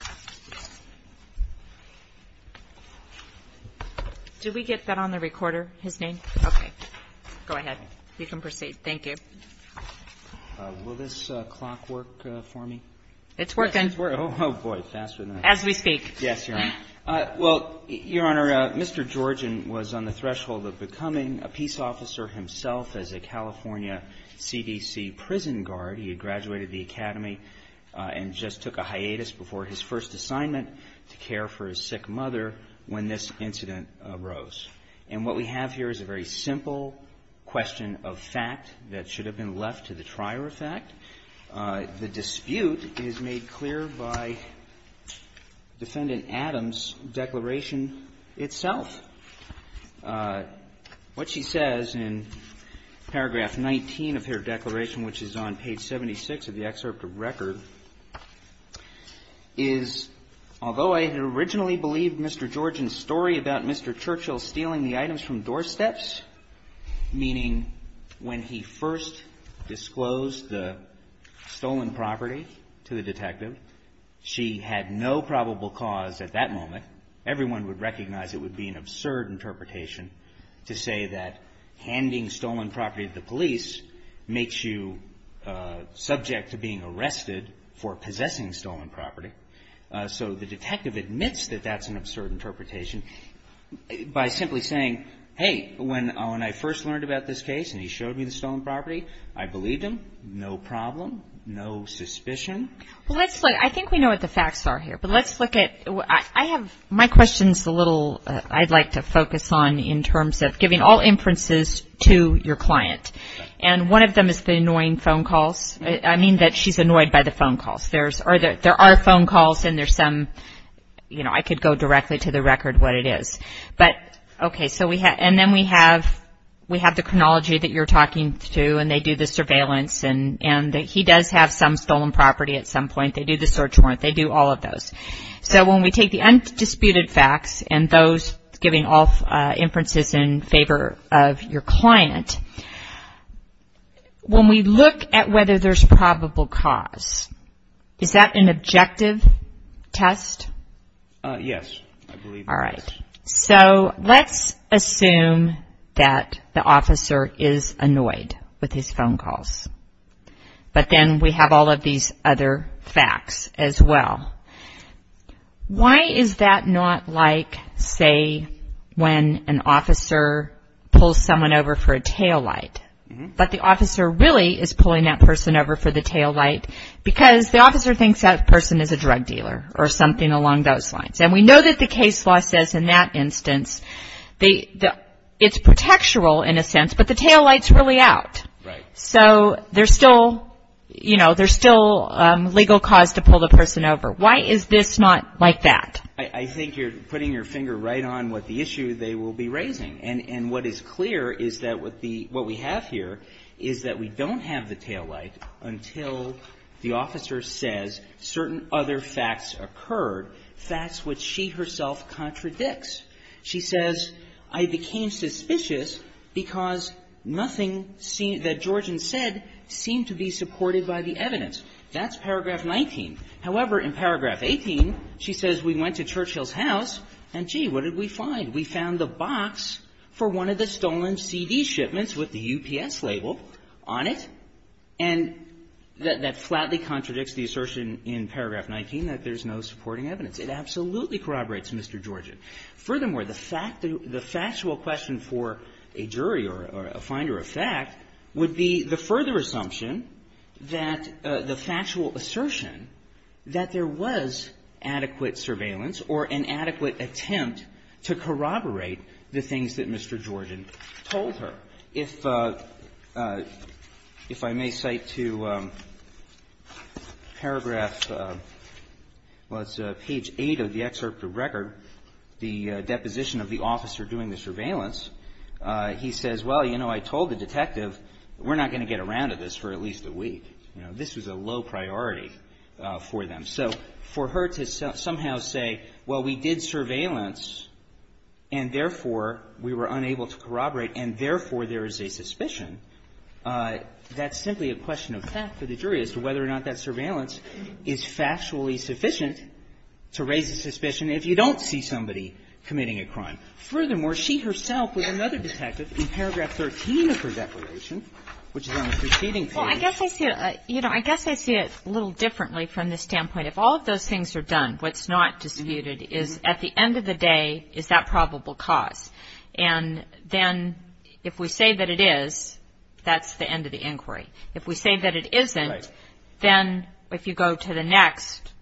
Mr. Georgian was on the threshold of becoming a peace officer himself as a California CDC prison guard. He had graduated the academy and just took a hiatus before his first assignment to care for his sick mother when this incident arose. And what we have here is a very simple question of fact that should have been left to the trier of fact. The dispute is made clear by Defendant Adams' declaration itself. What she says in paragraph 19 of her declaration, which is on page 76 of the excerpt of record, is although I originally believed Mr. Georgian's story about Mr. Churchill stealing the items from doorsteps, meaning when he first disclosed the stolen property to the detective, she had no probable cause at that moment, everyone would recognize it would be an absurd interpretation to say that handing stolen property to the police makes you subject to being arrested for possessing stolen property. So the detective admits that that's an absurd interpretation by simply saying, hey, when I first learned about this case and he showed me the stolen property, I believed him. No problem. No suspicion. Well, let's look, I think we know what the facts are here, but let's look at, I have, my question's a little, I'd like to focus on in terms of giving all inferences to your client. And one of them is the annoying phone calls. I mean that she's annoyed by the phone calls. There's, or there are phone calls and there's some, you know, I could go directly to the record what it is. But okay, so we have, and then we have, we have the chronology that you're talking to and they do the surveillance and, and that he does have some stolen property at some point. They do the search warrant. They do all of those. So when we take the undisputed facts and those giving all inferences in favor of your client, when we look at whether there's probable cause, is that an objective test? Yes, I believe it is. All right. So let's assume that the officer is annoyed with his phone calls, but then we have all of these other facts as well. Why is that not like, say, when an officer pulls someone over for a taillight, but the officer really is pulling that person over for the taillight because the officer thinks that person is a drug dealer or something along those lines. And we know that the case law says in that instance, it's protectural in a sense, but the taillight's really out. So there's still, you know, there's still legal cause to pull the person over. Why is this not like that? I think you're putting your finger right on what the issue they will be raising. And what is clear is that what the, what we have here is that we don't have the taillight until the officer says certain other facts occurred, facts which she herself contradicts. She says, I became suspicious because nothing that Georgian said seemed to be supported by the evidence. That's paragraph 19. However, in paragraph 18, she says, we went to Churchill's house, and, gee, what did we find? We found the box for one of the stolen CD shipments with the UPS label on it. And that flatly contradicts the assertion in paragraph 19 that there's no supporting evidence. It absolutely corroborates Mr. Georgian. Furthermore, the factual question for a jury or a finder of fact would be the further assumption that the factual assertion that there was adequate surveillance or an adequate attempt to corroborate the things that Mr. Georgian told her. If I may cite to paragraph, well, it's page 8 of the excerpt of record, the deposition of the officer doing the surveillance, he says, well, you know, I told the detective that we're not going to get around to this for at least a week. You know, this was a low priority for them. So for her to somehow say, well, we did surveillance, and therefore, we were unable to corroborate, and therefore, there is a suspicion, that's simply a question of fact for the jury as to whether or not that surveillance is factually sufficient to raise a suspicion if you don't see somebody committing a crime. Furthermore, she herself was another detective in paragraph 13 of her declaration, which is on the preceding page. Well, I guess I see it, you know, I guess I see it a little differently from this standpoint. If all of those things are done, what's not disputed is at the end of the day is that probable cause. And then if we say that it is, that's the end of the inquiry. If we say that it isn't, then if you go to the next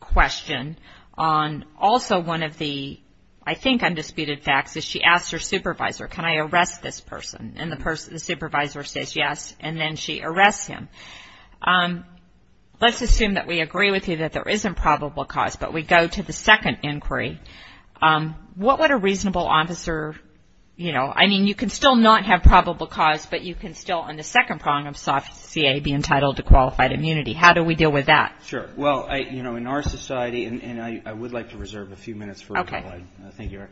question on also one of the, I think, undisputed facts is she asked her supervisor, can I arrest this person? And the supervisor says yes, and then she arrests him. Let's assume that we agree with you that there isn't probable cause, but we go to the second inquiry. What would a reasonable officer, you know, I mean, you can still not have probable cause, but you can still on the second prong of soft CA be entitled to qualified immunity. How do we deal with that? Sure. Well, you know, in our society, and I would like to reserve a few minutes for a couple of things here.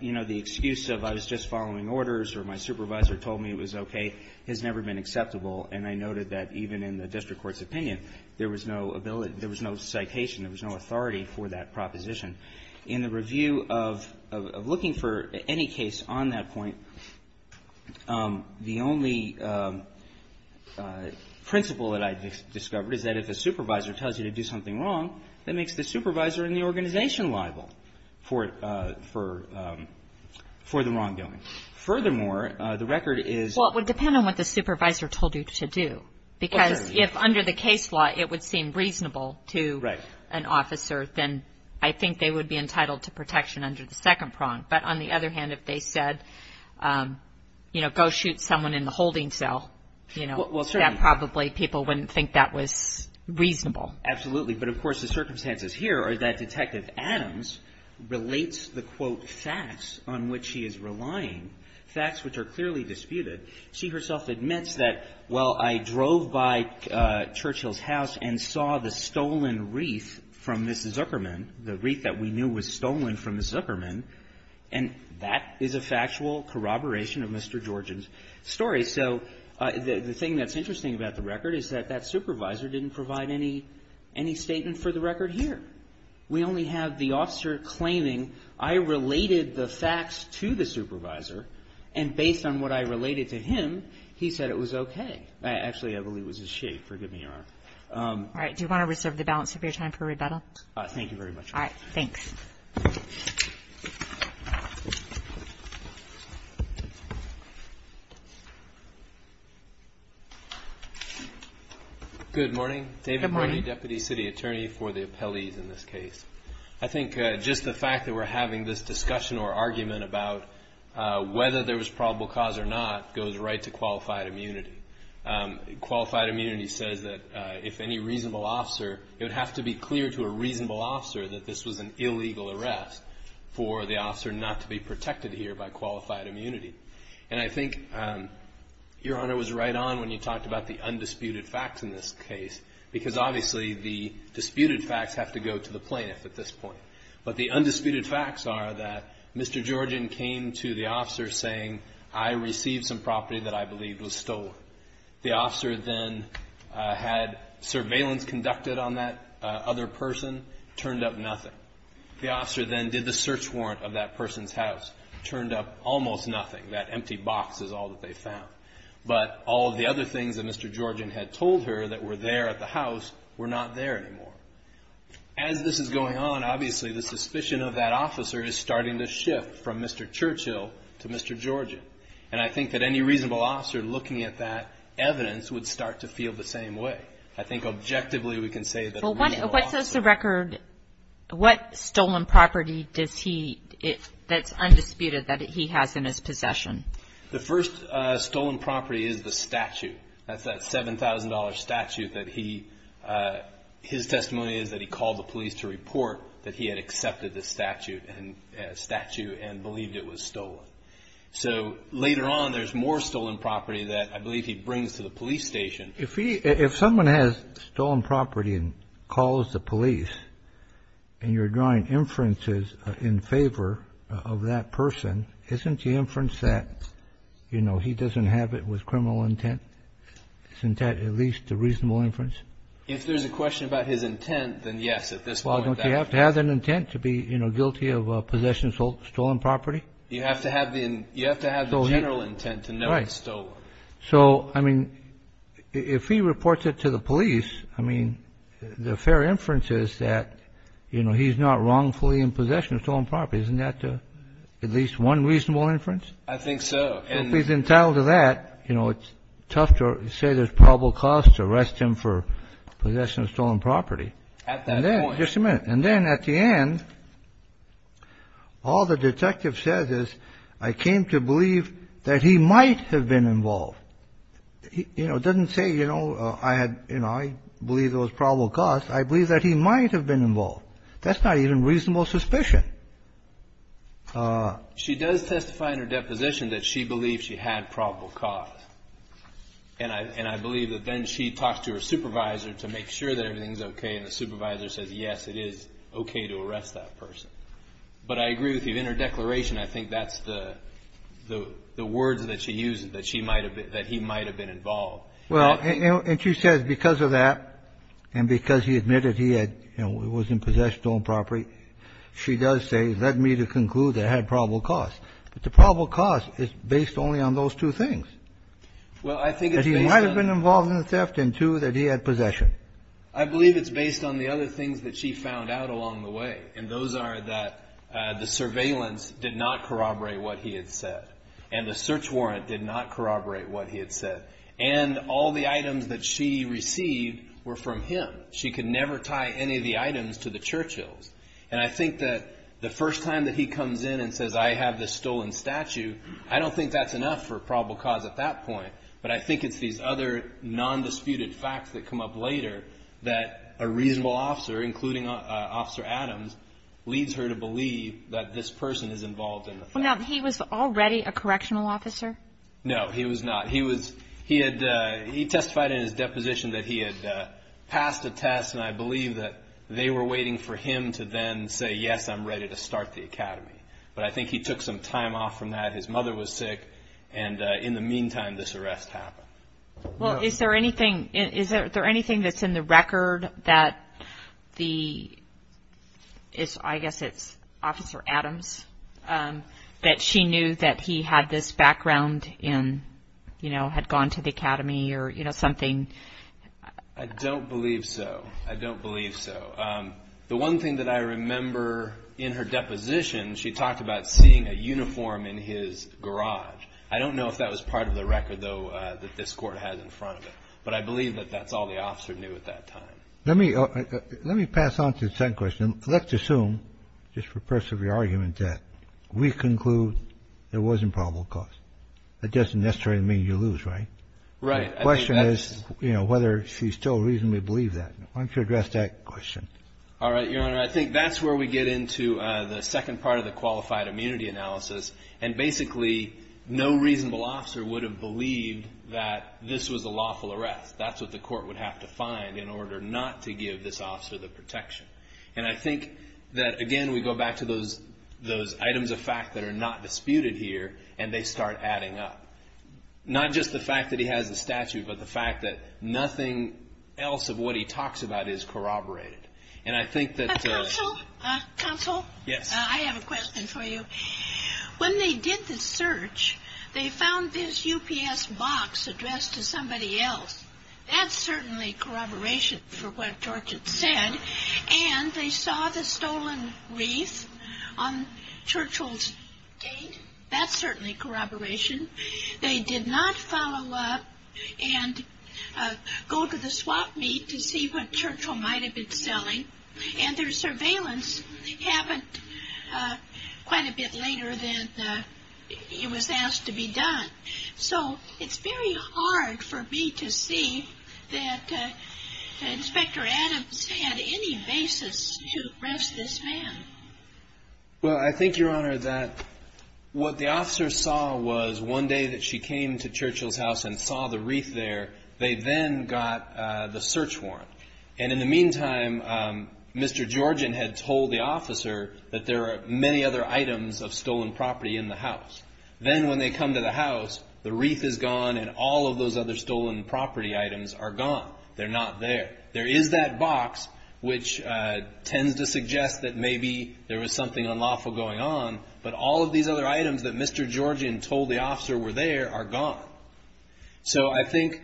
You know, the excuse of I was just following orders or my supervisor told me it was okay has never been acceptable. And I noted that even in the district court's opinion, there was no ability, there was no citation, there was no authority for that proposition. In the review of looking for any case on that point, the only principle that I discovered is that if a supervisor tells you to do something wrong, that makes the supervisor and the organization liable for the wrongdoing. Furthermore, the record is. Well, it would depend on what the supervisor told you to do. Because if under the case law, it would seem reasonable to. Right. An officer, then I think they would be entitled to protection under the second prong. But on the other hand, if they said, you know, go shoot someone in the holding cell, you know. Well, certainly. That probably people wouldn't think that was reasonable. Absolutely. But, of course, the circumstances here are that Detective Adams relates the, quote, facts on which she is relying, facts which are clearly disputed. She herself admits that, well, I drove by Churchill's house and saw the stolen wreath from Mrs. Zuckerman, the wreath that we knew was stolen from Mrs. Zuckerman, and that is a factual corroboration of Mr. Georgian's story. So the thing that's interesting about the record is that that supervisor didn't provide any statement for the record here. We only have the officer claiming, I related the facts to the supervisor, and based on what I related to him, he said it was okay. Actually, I believe it was his chief. Forgive me, Your Honor. All right. Do you want to reserve the balance of your time for rebuttal? Thank you very much. All right. Thanks. Good morning. David Brody, Deputy City Attorney for the appellees in this case. I think just the fact that we're having this discussion or argument about whether there was probable cause or not goes right to qualified immunity. Qualified immunity says that if any reasonable officer, it would have to be clear to a reasonable officer that this was an illegal arrest for the officer not to be protected here by qualified immunity. And I think Your Honor was right on when you talked about the undisputed facts in this case because obviously the disputed facts have to go to the plaintiff at this point. But the undisputed facts are that Mr. Georgian came to the officer saying, I received some property that I believe was stolen. The officer then had surveillance conducted on that other person, turned up nothing. The officer then did the search warrant of that person's house, turned up almost nothing. That empty box is all that they found. But all of the other things that Mr. Georgian had told her that were there at the house were not there anymore. As this is going on, obviously the suspicion of that officer is starting to shift from Mr. Churchill to Mr. Georgian. And I think that any reasonable officer looking at that evidence would start to feel the same way. I think objectively we can say that a reasonable officer. What's the record, what stolen property does he, that's undisputed that he has in his possession? The first stolen property is the statute. That's that $7,000 statute that he, his testimony is that he called the police to report that he had accepted the statute and believed it was stolen. So later on there's more stolen property that I believe he brings to the police station. If someone has stolen property and calls the police and you're drawing inferences in favor of that person, isn't the inference that, you know, he doesn't have it with criminal intent? Isn't that at least a reasonable inference? If there's a question about his intent, then yes, at this point. Well, don't you have to have an intent to be, you know, guilty of possession of stolen property? You have to have the general intent to know it's stolen. So, I mean, if he reports it to the police, I mean, the fair inference is that, you know, he's not wrongfully in possession of stolen property. Isn't that at least one reasonable inference? I think so. If he's entitled to that, you know, it's tough to say there's probable cause to arrest him for possession of stolen property. At that point. Just a minute. And then at the end, all the detective says is, I came to believe that he might have been involved. You know, it doesn't say, you know, I had, you know, I believe there was probable cause. I believe that he might have been involved. That's not even reasonable suspicion. She does testify in her deposition that she believed she had probable cause. And I believe that then she talks to her supervisor to make sure that everything is okay, and the supervisor says, yes, it is okay to arrest that person. But I agree with you. In her declaration, I think that's the words that she uses, that she might have been – that he might have been involved. Well, and she says because of that and because he admitted he had, you know, was in possession of stolen property, she does say, led me to conclude that it had probable cause. But the probable cause is based only on those two things. Well, I think it's based on – That he might have been involved in the theft and, two, that he had possession. I believe it's based on the other things that she found out along the way. And those are that the surveillance did not corroborate what he had said. And the search warrant did not corroborate what he had said. And all the items that she received were from him. She could never tie any of the items to the Churchills. And I think that the first time that he comes in and says, I have this stolen statue, I don't think that's enough for probable cause at that point. But I think it's these other nondisputed facts that come up later that a reasonable officer, including Officer Adams, leads her to believe that this person is involved in the theft. Now, he was already a correctional officer? No, he was not. He testified in his deposition that he had passed a test. And I believe that they were waiting for him to then say, yes, I'm ready to start the academy. But I think he took some time off from that. His mother was sick. And in the meantime, this arrest happened. Well, is there anything that's in the record that the – I guess it's Officer Adams – that she knew that he had this background in – you know, had gone to the academy or, you know, something? I don't believe so. I don't believe so. The one thing that I remember in her deposition, she talked about seeing a uniform in his garage. I don't know if that was part of the record, though, that this court had in front of it. But I believe that that's all the officer knew at that time. Let me pass on to the second question. Let's assume, just for purpose of your argument, that we conclude there was improbable cause. That doesn't necessarily mean you lose, right? Right. The question is, you know, whether she still reasonably believed that. Why don't you address that question? All right, Your Honor. I think that's where we get into the second part of the qualified immunity analysis. And basically, no reasonable officer would have believed that this was a lawful arrest. That's what the court would have to find in order not to give this officer the protection. And I think that, again, we go back to those items of fact that are not disputed here. And they start adding up. Not just the fact that he has a statute, but the fact that nothing else of what he talks about is corroborated. And I think that... Counsel? Counsel? Yes. I have a question for you. When they did the search, they found this UPS box addressed to somebody else. That's certainly corroboration for what Dorkin said. And they saw the stolen wreath on Churchill's gate. That's certainly corroboration. They did not follow up and go to the swap meet to see what Churchill might have been selling. And their surveillance happened quite a bit later than it was asked to be done. So it's very hard for me to see that Inspector Adams had any basis to arrest this man. Well, I think, Your Honor, that what the officer saw was one day that she came to Churchill's house and saw the wreath there, they then got the search warrant. And in the meantime, Mr. Georgian had told the officer that there are many other items of stolen property in the house. Then when they come to the house, the wreath is gone and all of those other stolen property items are gone. They're not there. There is that box, which tends to suggest that maybe there was something unlawful going on, but all of these other items that Mr. Georgian told the officer were there are gone. So I think,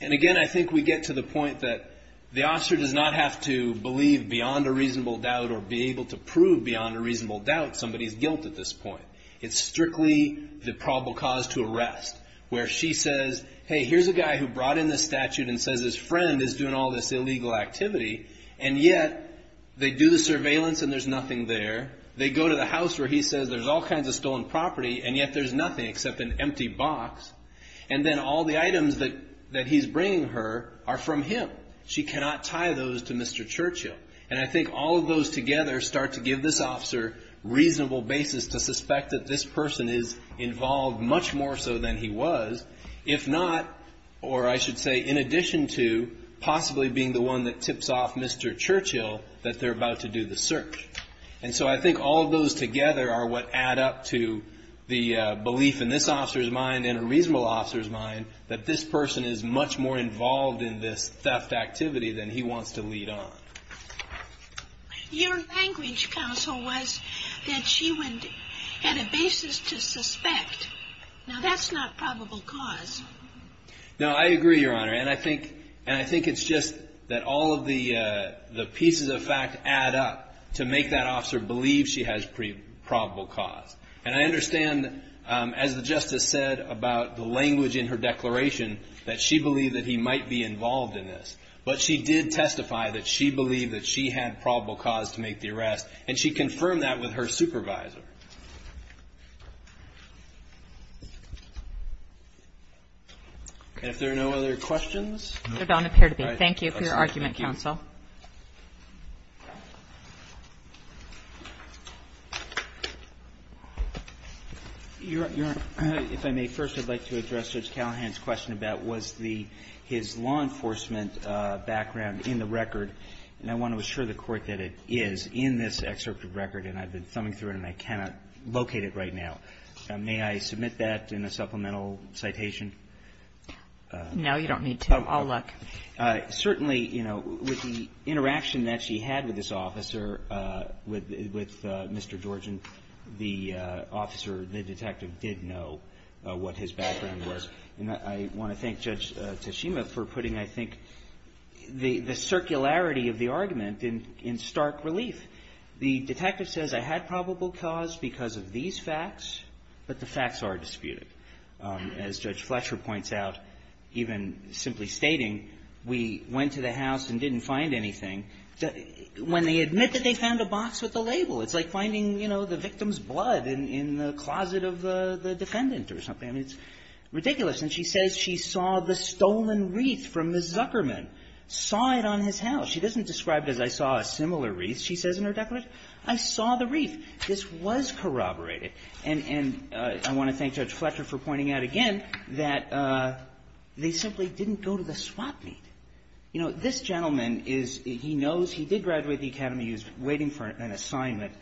and again, I think we get to the point that the officer does not have to believe beyond a reasonable doubt or be able to prove beyond a reasonable doubt somebody's guilt at this point. It's strictly the probable cause to arrest, where she says, hey, here's a guy who brought in this statute and says his friend is doing all this illegal activity, and yet they do the surveillance and there's nothing there. They go to the house where he says there's all kinds of stolen property and yet there's nothing except an empty box. And then all the items that he's bringing her are from him. She cannot tie those to Mr. Churchill. And I think all of those together start to give this officer reasonable basis to suspect that this person is involved much more so than he was. If not, or I should say, in addition to possibly being the one that tips off Mr. Churchill, that they're about to do the search. And so I think all of those together are what add up to the belief in this officer's mind and a reasonable officer's mind that this person is much more involved in this theft activity than he wants to lead on. Your language, counsel, was that she had a basis to suspect. Now, that's not probable cause. No, I agree, Your Honor. And I think it's just that all of the pieces of fact add up to make that officer believe she has probable cause. And I understand, as the Justice said about the language in her declaration, that she believed that he might be involved in this. But she did testify that she believed that she had probable cause to make the arrest. And she confirmed that with her supervisor. And if there are no other questions? There don't appear to be. Thank you for your argument, counsel. Your Honor, if I may first, I'd like to address Judge Callahan's question about was his law enforcement background in the record. And I want to assure the Court that it is in this excerpt of record, and I've been thumbing through it, and I cannot locate it right now. May I submit that in a supplemental citation? No, you don't need to. I'll look. The interaction that she had with this officer, with Mr. Georgian, the officer, the detective, did know what his background was. And I want to thank Judge Tashima for putting, I think, the circularity of the argument in stark relief. The detective says, I had probable cause because of these facts, but the facts are disputed. As Judge Fletcher points out, even simply stating, we went to the house and didn't find anything. When they admit that they found a box with a label, it's like finding, you know, the victim's blood in the closet of the defendant or something. I mean, it's ridiculous. And she says she saw the stolen wreath from Ms. Zuckerman, saw it on his house. She doesn't describe it as, I saw a similar wreath. She says in her declaration, I saw the wreath. This was corroborated. And I want to thank Judge Fletcher for pointing out again that they simply didn't go to the swap meet. You know, this gentleman is, he knows he did graduate the academy. He was waiting for an assignment.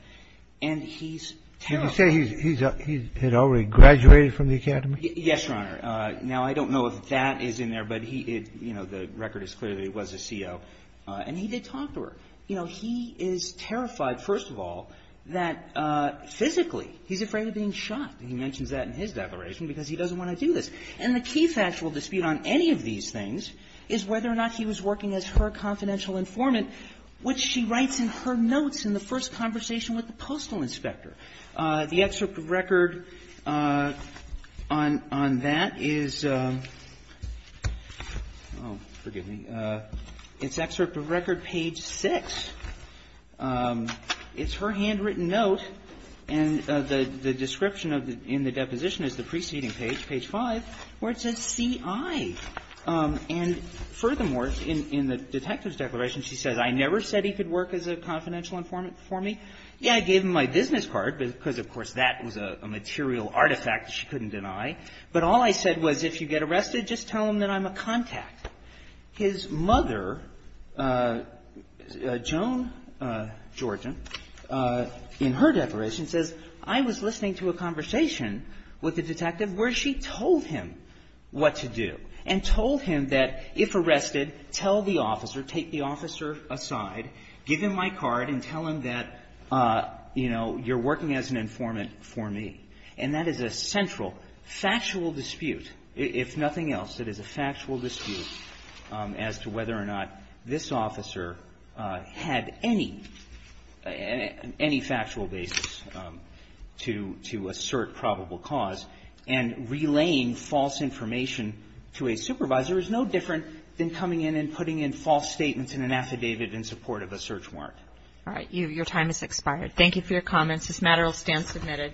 And he's terrified. He said he had already graduated from the academy? Yes, Your Honor. Now, I don't know if that is in there, but he, you know, the record is clearly it was a CO. And he did talk to her. You know, he is terrified, first of all, that physically he's afraid of being shot. And he mentions that in his declaration because he doesn't want to do this. And the key factual dispute on any of these things is whether or not he was working as her confidential informant, which she writes in her notes in the first conversation with the postal inspector. The excerpt of record on that is oh, forgive me. It's excerpt of record page 6. It's her handwritten note. And the description in the deposition is the preceding page, page 5, where it says CI. And furthermore, in the detective's declaration, she says, I never said he could work as a confidential informant for me. Yeah, I gave him my business card because, of course, that was a material artifact that she couldn't deny. But all I said was if you get arrested, just tell him that I'm a contact. His mother, Joan Georgian, in her declaration says, I was listening to a conversation with the detective where she told him what to do and told him that if arrested, tell the officer, take the officer aside, give him my card and tell him that, you know, you're working as an informant for me. And that is a central factual dispute. If nothing else, it is a factual dispute as to whether or not this officer had any factual basis to assert probable cause. And relaying false information to a supervisor is no different than coming in and putting in false statements in an affidavit in support of a search warrant. All right. Your time has expired. Thank you for your comments. This matter will stand submitted.